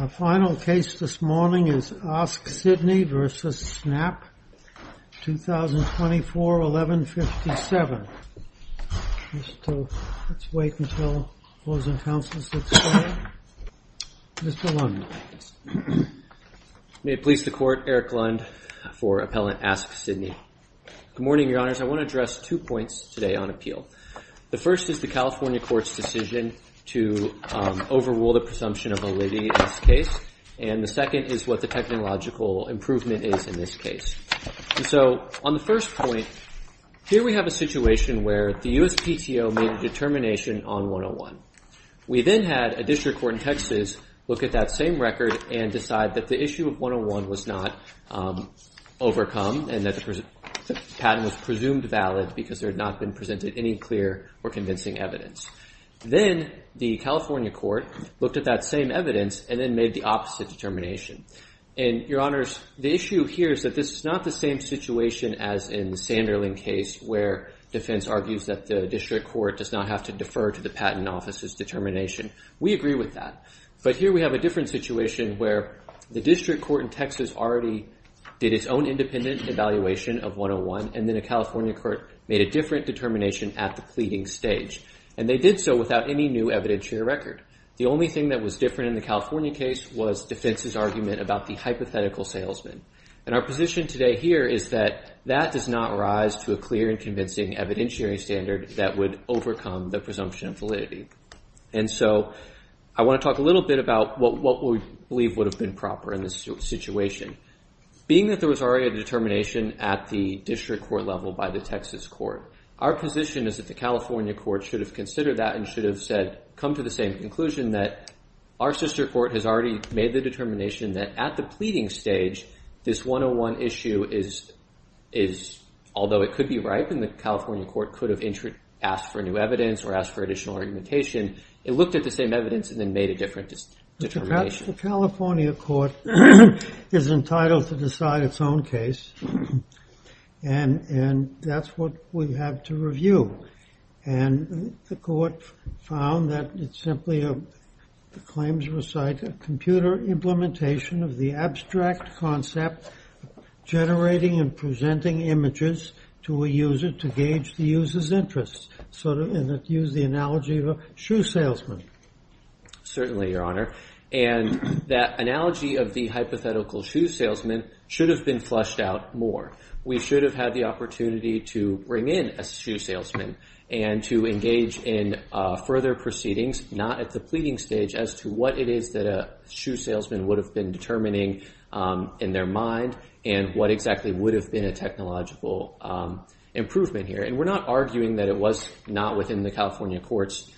Our final case this morning is Ask Sydney v. Snap, 2024-1157. Let's wait until Closing Counsel sits down. Mr. Lund. May it please the Court, Eric Lund for Appellant Ask Sydney. Good morning, Your Honors. I want to address two points today on appeal. The first is the California Court's decision to overrule the presumption of validity in this case. And the second is what the technological improvement is in this case. So, on the first point, here we have a situation where the USPTO made a determination on 101. We then had a district court in Texas look at that same record and decide that the issue of 101 was not overcome and that the patent was presumed valid because there had not been presented any clear or convincing evidence. Then, the California Court looked at that same evidence and then made the opposite determination. And, Your Honors, the issue here is that this is not the same situation as in the Sanderling case where defense argues that the district court does not have to defer to the patent office's determination. We agree with that. But here we have a different situation where the district court in Texas already did its own independent evaluation of 101 and then the California Court made a different determination at the pleading stage. And they did so without any new evidentiary record. The only thing that was different in the California case was defense's argument about the hypothetical salesman. And our position today here is that that does not rise to a clear and convincing evidentiary standard that would overcome the presumption of validity. And so, I want to talk a little bit about what we believe would have been proper in this situation. Being that there was already a determination at the district court level by the Texas court, our position is that the California court should have considered that and should have said, come to the same conclusion that our sister court has already made the determination that at the pleading stage, this 101 issue is, although it could be right and the California court could have asked for new evidence or asked for additional argumentation, it looked at the same evidence and then made a different determination. The California court is entitled to decide its own case. And that's what we have to review. And the court found that it simply claims recite a computer implementation of the abstract concept generating and presenting images to a user to gauge the user's interest. And it used the analogy of a shoe salesman. Certainly, Your Honor. And that analogy of the hypothetical shoe salesman should have been flushed out more. We should have had the opportunity to bring in a shoe salesman and to engage in further proceedings, not at the pleading stage, as to what it is that a shoe salesman would have been determining in their mind and what exactly would have been a technological improvement here. And we're not arguing that it was not within the California court's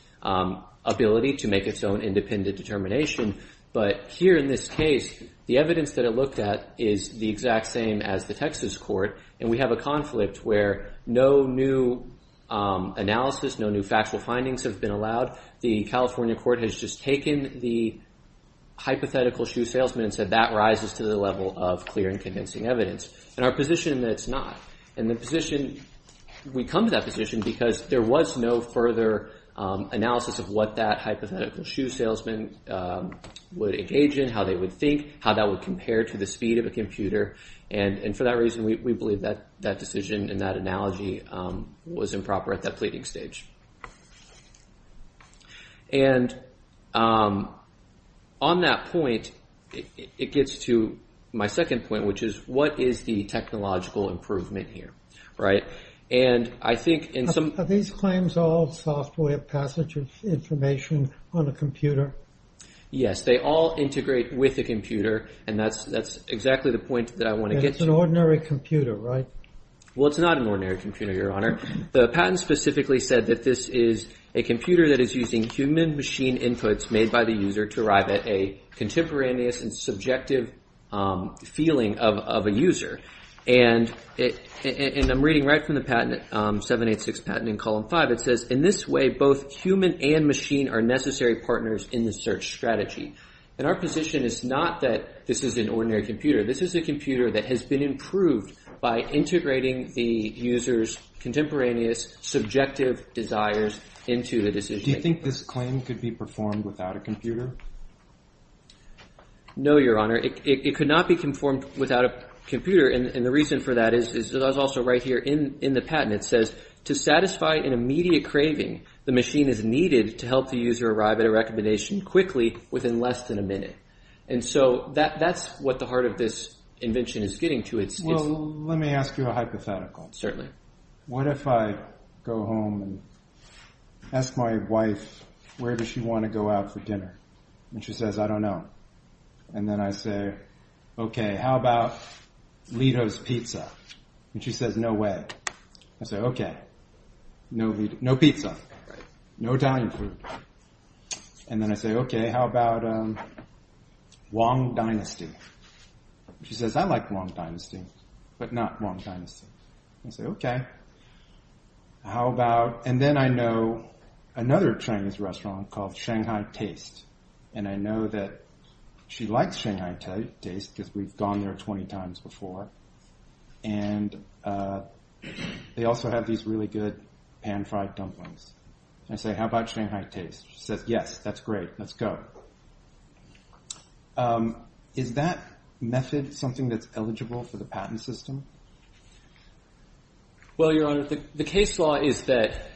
ability to make its own independent determination. But here in this case, the evidence that it looked at is the exact same as the Texas court. And we have a conflict where no new analysis, no new factual findings have been allowed. The California court has just taken the hypothetical shoe salesman and said that rises to the level of clear and convincing evidence. And our position is that it's not. And we come to that position because there was no further analysis of what that hypothetical shoe salesman would engage in, how they would think, how that would compare to the speed of a computer. And for that reason, we believe that decision and that analogy was improper at that pleading stage. And on that point, it gets to my second point, which is what is the technological improvement here, right? And I think in some... Are these claims all software passage of information on a computer? Yes, they all integrate with a computer and that's exactly the point that I want to get to. It's an ordinary computer, right? Well, it's not an ordinary computer, Your Honor. The patent specifically said that this is a computer that is using human machine inputs made by the user to arrive at a contemporaneous and subjective feeling of a user. And I'm reading right from the patent, 786 patent in column 5. It says, in this way, both human and machine are necessary partners in the search strategy. And our position is not that this is an ordinary computer. This is a computer that has been improved by integrating the user's contemporaneous subjective desires into the decision. Do you think this claim could be performed without a computer? No, Your Honor. It could not be conformed without a computer. And the reason for that is also right here in the patent. It says, to satisfy an immediate craving, the machine is needed to help the user arrive at a recommendation quickly within less than a minute. And so that's what the heart of this invention is getting to. Well, let me ask you a hypothetical. What if I go home and ask my wife, where does she want to go out for dinner? And she says, I don't know. And then I say, okay, how about Lido's Pizza? And she says, no way. I say, okay. No pizza. No Italian food. And then I say, okay, how about Wong Dynasty? She says, I like Wong Dynasty. But not Wong Dynasty. I say, okay. How about, and then I know another Chinese restaurant called Shanghai Taste. And I know that she likes Shanghai Taste because we've gone there 20 times before. And they also have these really good pan-fried dumplings. I say, how about Shanghai Taste? She says, yes. That's great. Let's go. Is that method something that's eligible for the patent system? Well, Your Honor, the case law is that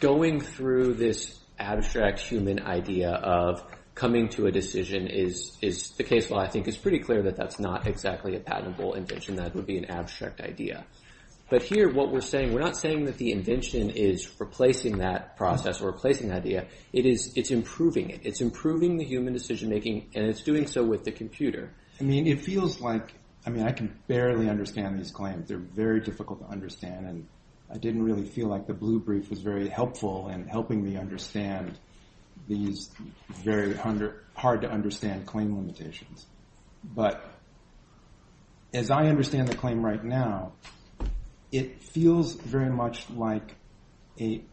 going through this abstract human idea of coming to a decision is, the case law I think is pretty clear that that's not exactly a patentable invention. That would be an abstract idea. But here what we're saying, we're not saying that the invention is replacing that process or replacing that idea. It's improving it. It's improving the human decision making and it's doing so with the computer. I mean, it feels like, I mean, I can barely understand these claims. They're very difficult to understand. And I didn't really feel like the blue brief was very helpful in helping me understand these very hard to understand claim limitations. But as I understand the claim right now, it feels very much like it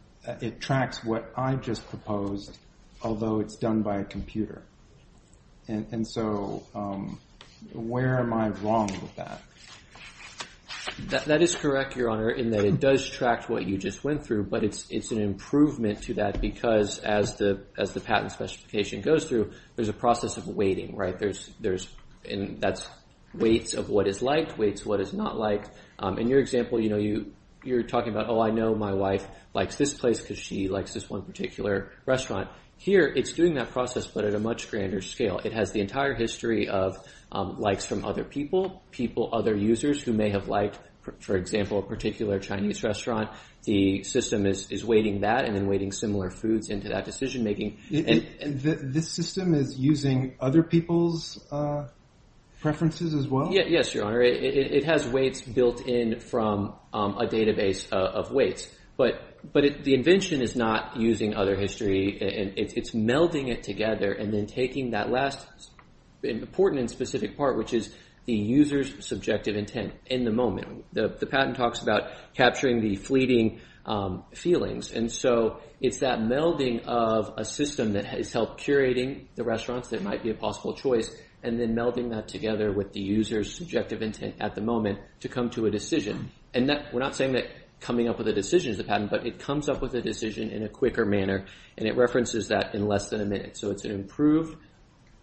tracks what I just proposed, although it's done by a computer. And so where am I wrong with that? That is correct, Your Honor, in that it does track what you just went through. But it's an improvement to that because as the patent specification goes through, there's a process of waiting, right? And that's waits of what is liked, waits of what is not liked. In your example, you're talking about, oh, I know my wife likes this place because she likes this one particular restaurant. Here it's doing that process but at a much grander scale. It has the entire history of likes from other people, other users who may have liked, for example, a particular Chinese restaurant. The system is waiting that and then waiting similar foods into that decision making. This system is using other people's preferences as well? Yes, Your Honor. It has waits built in from a database of waits. But the invention is not using other history. It's melding it together and then taking that last important and specific part, which is the user's subjective intent in the moment. The patent talks about capturing the fleeting feelings. And so it's that melding of a system that has helped curating the restaurants that might be a possible choice and then melding that together with the user's subjective intent at the moment to come to a decision. And we're not saying that coming up with a decision is a patent, but it comes up with a decision in a quicker manner and it references that in less than a minute. So it's an improved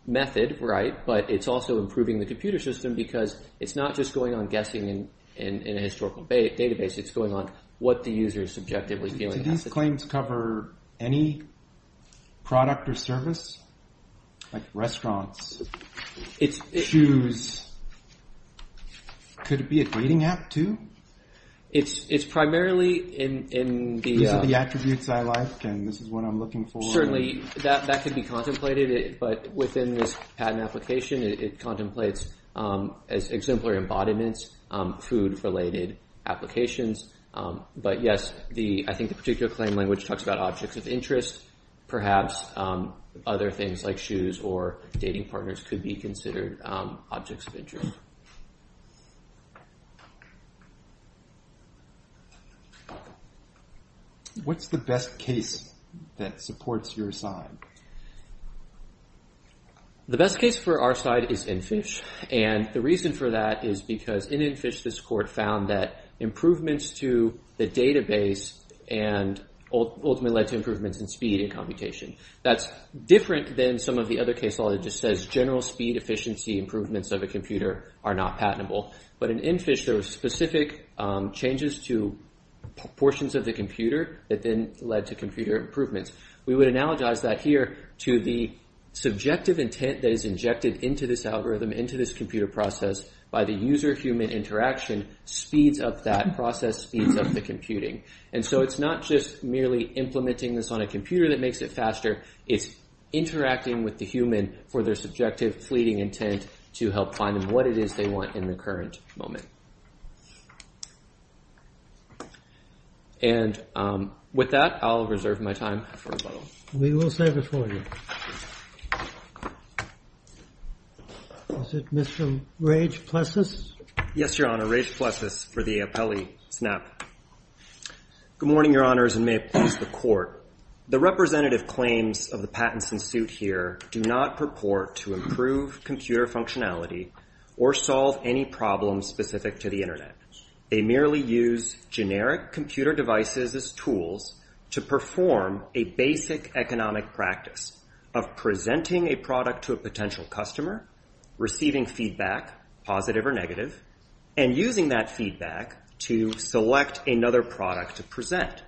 method, right? But it's also improving the computer system because it's not just going on guessing in a historical database. It's going on what the user is subjectively feeling. Do these claims cover any product or service? Like restaurants? Shoes? Could it be a dating app too? It's primarily in the... These are the attributes I like and this is what I'm looking for. Certainly, that could be contemplated, but within this patent application, it contemplates as exemplary embodiments, food-related applications. But yes, I think the particular claim language talks about objects of interest. Perhaps other things like shoes or dating partners could be considered objects of interest. What's the best case that supports your side? The best case for our side is InFish. And the reason for that is because in InFish, this court found that improvements to the database ultimately led to improvements in speed and computation. That's different than some of the other case law that just says general speed, efficiency, improvements of a computer are not patentable. But in InFish, there were specific changes to portions of the computer that then led to computer improvements. We would analogize that here to the subjective intent that is injected into this algorithm, into this computer process by the user-human interaction speeds up that process, speeds up the computing. And so it's not just merely implementing this on a computer that makes it faster, it's interacting with the human for their subjective fleeting intent to help find them what it is they want in the current moment. And with that, I'll reserve my time for rebuttal. We will save it for you. Was it Mr. Rage-Plessis? Yes, Your Honor, Rage-Plessis for the appellee, SNAP. Good morning, Your Honors, and may it please the Court. The representative claims of the patents in suit here do not purport to improve computer functionality or solve any problems specific to the Internet. They merely use generic computer devices as tools to perform a basic economic practice of presenting a product to a potential customer, receiving feedback, positive or negative, and using that feedback to select another product to present.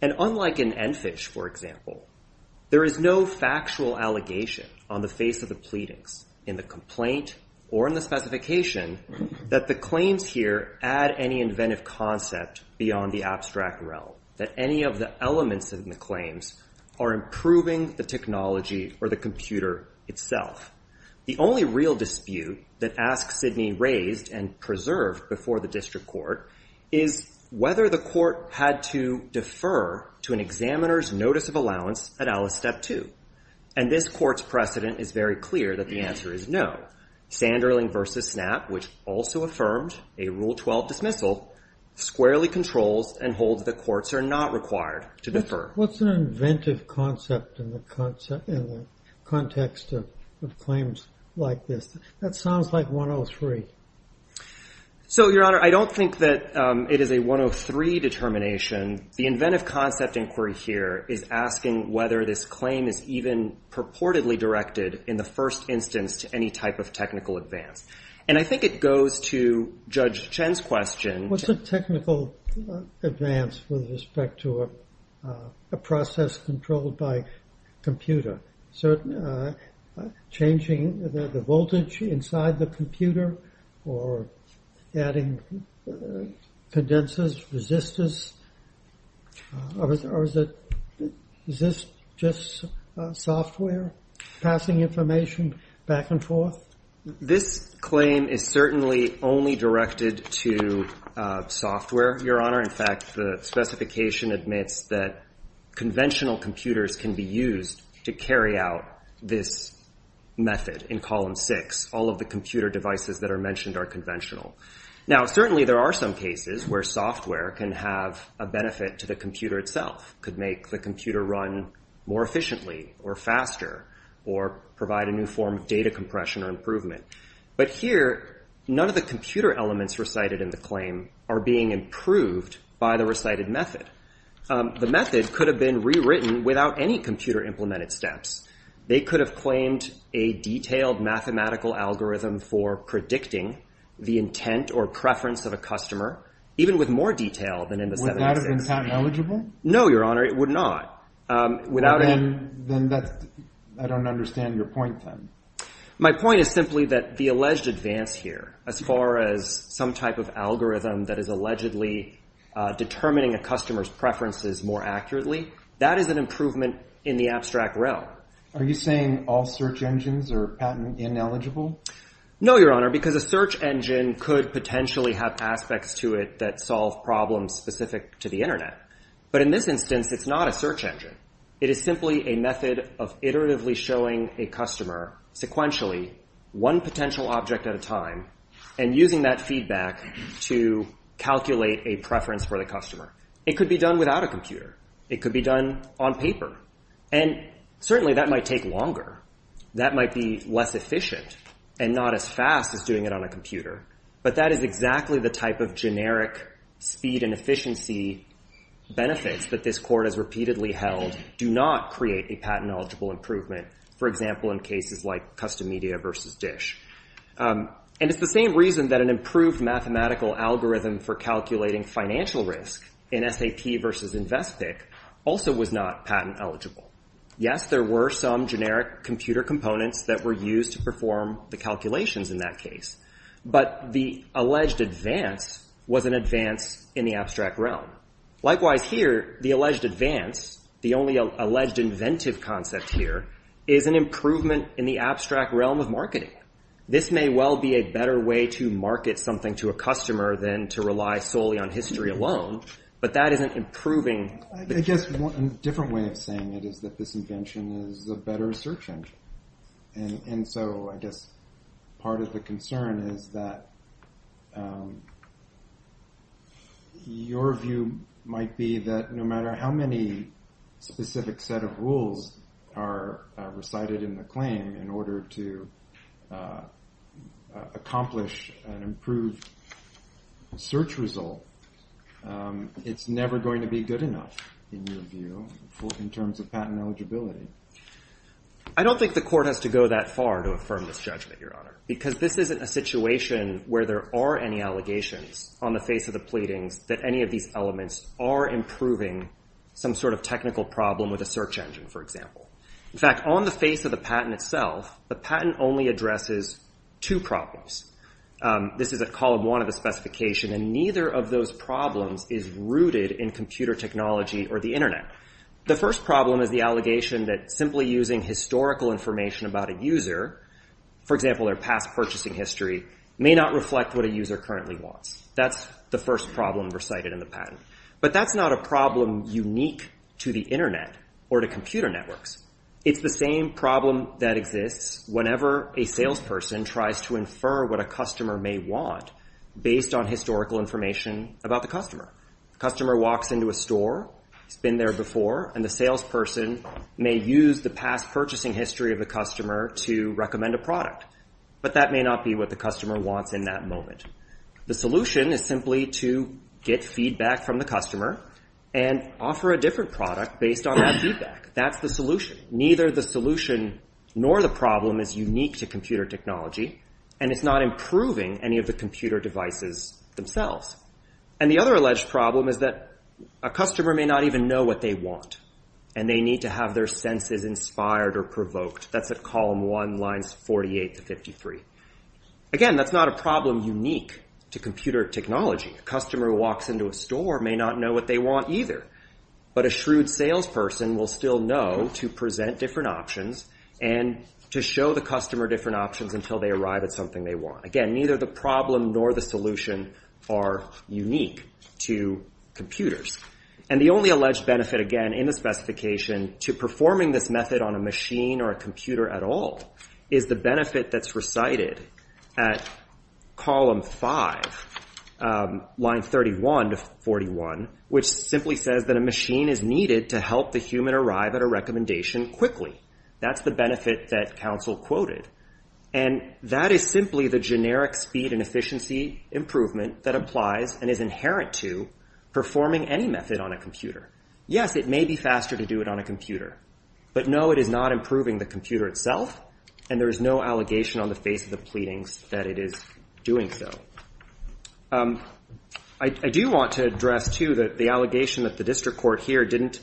And unlike in InFish, for example, there is no factual allegation on the face of the pleadings in the complaint or in the specification that the claims here add any inventive concept beyond the abstract realm, that any of the elements in the claims are improving the technology or the computer itself. The only real dispute that AskSydney raised and preserved before the District Court is whether the Court had to defer to an examiner's notice of allowance at Alice Step 2. And this Court's precedent is very clear that the answer is no. Sanderling v. SNAP, which also affirmed a Rule 12 dismissal, squarely controls and holds that courts are not required to defer. What's an inventive concept in the context of claims like this? That sounds like 103. So, Your Honor, I don't think that it is a 103 determination. The inventive concept inquiry here is asking whether this claim is even purportedly directed in the first instance to any type of technical advance. And I think it goes to Judge Chen's question. What's a technical advance with respect to a process controlled by a computer? So, changing the voltage inside the computer or adding condensers, resistors, or is this just software passing information back and forth? This claim is certainly only directed to software, Your Honor. In fact, the specification admits that conventional computers can be used to carry out this method in Column 6. All of the computer devices that are mentioned are conventional. Now, certainly there are some cases where software can have a benefit to the computer itself. It could make the computer run more efficiently or faster or provide a new form of data compression or improvement. But here, none of the computer elements recited in the claim are being improved by the recited method. The method could have been rewritten without any computer-implemented steps. They could have claimed a detailed mathematical algorithm for predicting the intent or preference of a customer, even with more detail than in the 76. Would that have been patent eligible? No, Your Honor, it would not. Then I don't understand your point, then. My point is simply that the alleged advance here, as far as some type of algorithm that is allegedly determining a customer's preferences more accurately, that is an improvement in the abstract realm. Are you saying all search engines are patent ineligible? No, Your Honor, because a search engine could potentially have aspects to it that solve problems specific to the Internet. But in this instance, it's not a search engine. It is simply a method of iteratively showing a customer, sequentially, one potential object at a time, and using that feedback to calculate a preference for the customer. It could be done without a computer. It could be done on paper. And certainly that might take longer. That might be less efficient and not as fast as doing it on a computer. But that is exactly the type of generic speed and efficiency benefits that this Court has repeatedly held do not create a patent-eligible improvement, for example, in cases like Custom Media v. Dish. And it's the same reason that an improved mathematical algorithm for calculating financial risk in SAP v. Investpick also was not patent-eligible. Yes, there were some generic computer components that were used to perform the calculations in that case. But the alleged advance was an advance in the abstract realm. Likewise here, the alleged advance, the only alleged inventive concept here, is an improvement in the abstract realm of marketing. This may well be a better way to market something to a customer than to rely solely on history alone, but that isn't improving. I guess a different way of saying it is that this invention is a better search engine. And so I guess part of the concern is that your view might be that no matter how many specific set of rules are recited in the claim in order to accomplish an improved search result, it's never going to be good enough, in your view, in terms of patent eligibility. I don't think the Court has to go that far to affirm this judgment, Your Honor, because this isn't a situation where there are any allegations on the face of the pleadings that any of these elements are improving some sort of technical problem with a search engine, for example. In fact, on the face of the patent itself, the patent only addresses two problems. This is a column one of the specification, and neither of those problems is rooted in computer technology or the Internet. The first problem is the allegation that simply using historical information about a user, for example, their past purchasing history, may not reflect what a user currently wants. That's the first problem recited in the patent. But that's not a problem unique to the Internet or to computer networks. It's the same problem that exists whenever a salesperson tries to infer what a customer may want based on historical information about the customer. The customer walks into a store, has been there before, and the salesperson may use the past purchasing history of the customer to recommend a product. But that may not be what the customer wants in that moment. The solution is simply to get feedback from the customer and offer a different product based on that feedback. That's the solution. Neither the solution nor the problem is unique to computer technology, and it's not improving any of the computer devices themselves. And the other alleged problem is that a customer may not even know what they want, and they need to have their senses inspired or provoked. That's at column one, lines 48 to 53. Again, that's not a problem unique to computer technology. A customer who walks into a store may not know what they want either, but a shrewd salesperson will still know to present different options and to show the customer different options until they arrive at something they want. Again, neither the problem nor the solution are unique to computers. And the only alleged benefit, again, in the specification to performing this method on a machine or a computer at all is the benefit that's recited at column five, line 31 to 41, which simply says that a machine is needed to help the human arrive at a recommendation quickly. That's the benefit that counsel quoted. And that is simply the generic speed and efficiency improvement that applies and is inherent to performing any method on a computer. Yes, it may be faster to do it on a computer, but no, it is not improving the computer itself, and there is no allegation on the face of the pleadings that it is doing so. I do want to address, too, that the allegation that the district court here didn't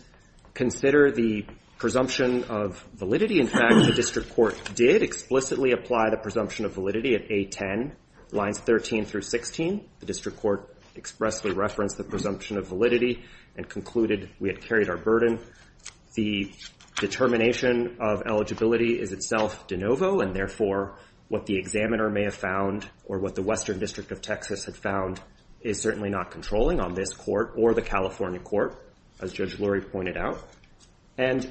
consider the presumption of validity. In fact, the district court did explicitly apply the presumption of validity at A10, lines 13 through 16. The district court expressly referenced the presumption of validity and concluded we had carried our burden. The determination of eligibility is itself de novo, and therefore what the examiner may have found or what the Western District of Texas had found is certainly not controlling on this court or the California court, as Judge Lurie pointed out. And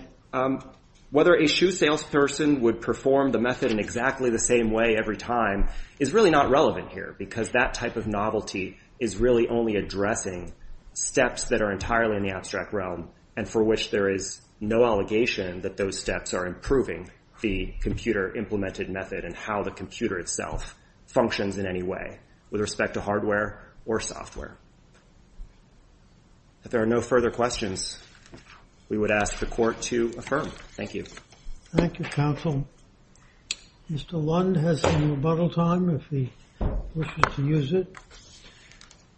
whether a shoe salesperson would perform the method in exactly the same way every time is really not relevant here, because that type of novelty is really only addressing steps that are entirely in the abstract realm and for which there is no allegation that those steps are improving the computer implemented method and how the computer itself functions in any way with respect to hardware or software. If there are no further questions, we would ask the court to affirm. Thank you. Thank you, counsel. Mr. Lund has some rebuttal time if he wishes to use it.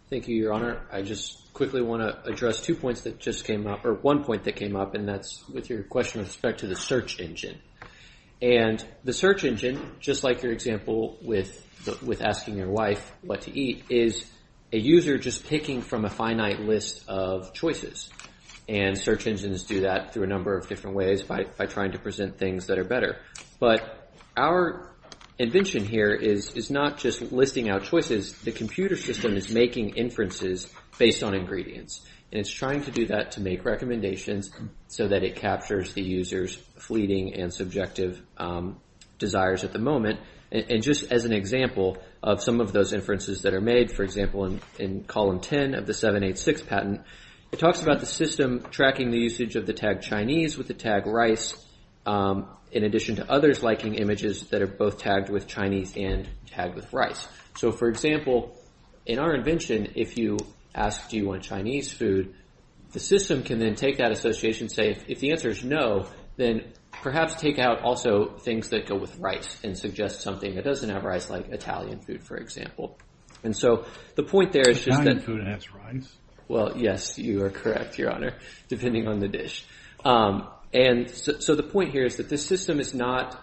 Thank you, Your Honor. I just quickly want to address two points that just came up, or one point that came up, and that's with your question with respect to the search engine. The search engine, just like your example with asking your wife what to eat, is a user just picking from a finite list of choices. And search engines do that through a number of different ways by trying to present things that are better. But our invention here is not just listing out choices. The computer system is making inferences based on ingredients. And it's trying to do that to make recommendations so that it captures the user's fleeting and subjective desires at the moment. And just as an example of some of those inferences that are made, for example, in column 10 of the 786 patent, it talks about the system tracking the usage of the tag Chinese with the tag rice, in addition to others liking images that are both tagged with Chinese and tagged with rice. So, for example, in our invention, if you ask, do you want Chinese food, the system can then take that association and say, if the answer is no, then perhaps take out also things that go with rice and suggest something that doesn't have rice, like Italian food, for example. And so the point there is just that... Well, yes, you are correct, Your Honor, depending on the dish. So the point here is that this system is not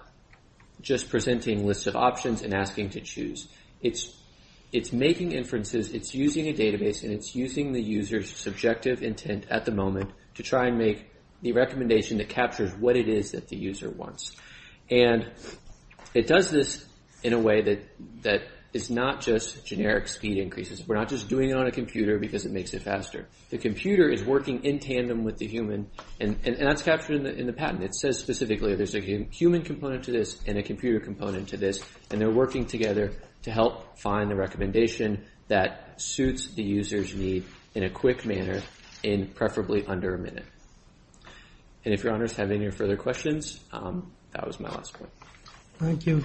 just presenting lists of options and asking to choose. It's making inferences, it's using a database, and it's using the user's subjective intent at the moment to try and make the recommendation that captures what it is that the user wants. And it does this in a way that is not just generic speed increases. We're not just doing it on a computer because it makes it faster. The computer is working in tandem with the human, and that's captured in the patent. It says specifically there's a human component to this and a computer component to this, and they're working together to help find the recommendation that suits the user's need in a quick manner in preferably under a minute. And if Your Honors have any further questions, that was my last point. Thank you.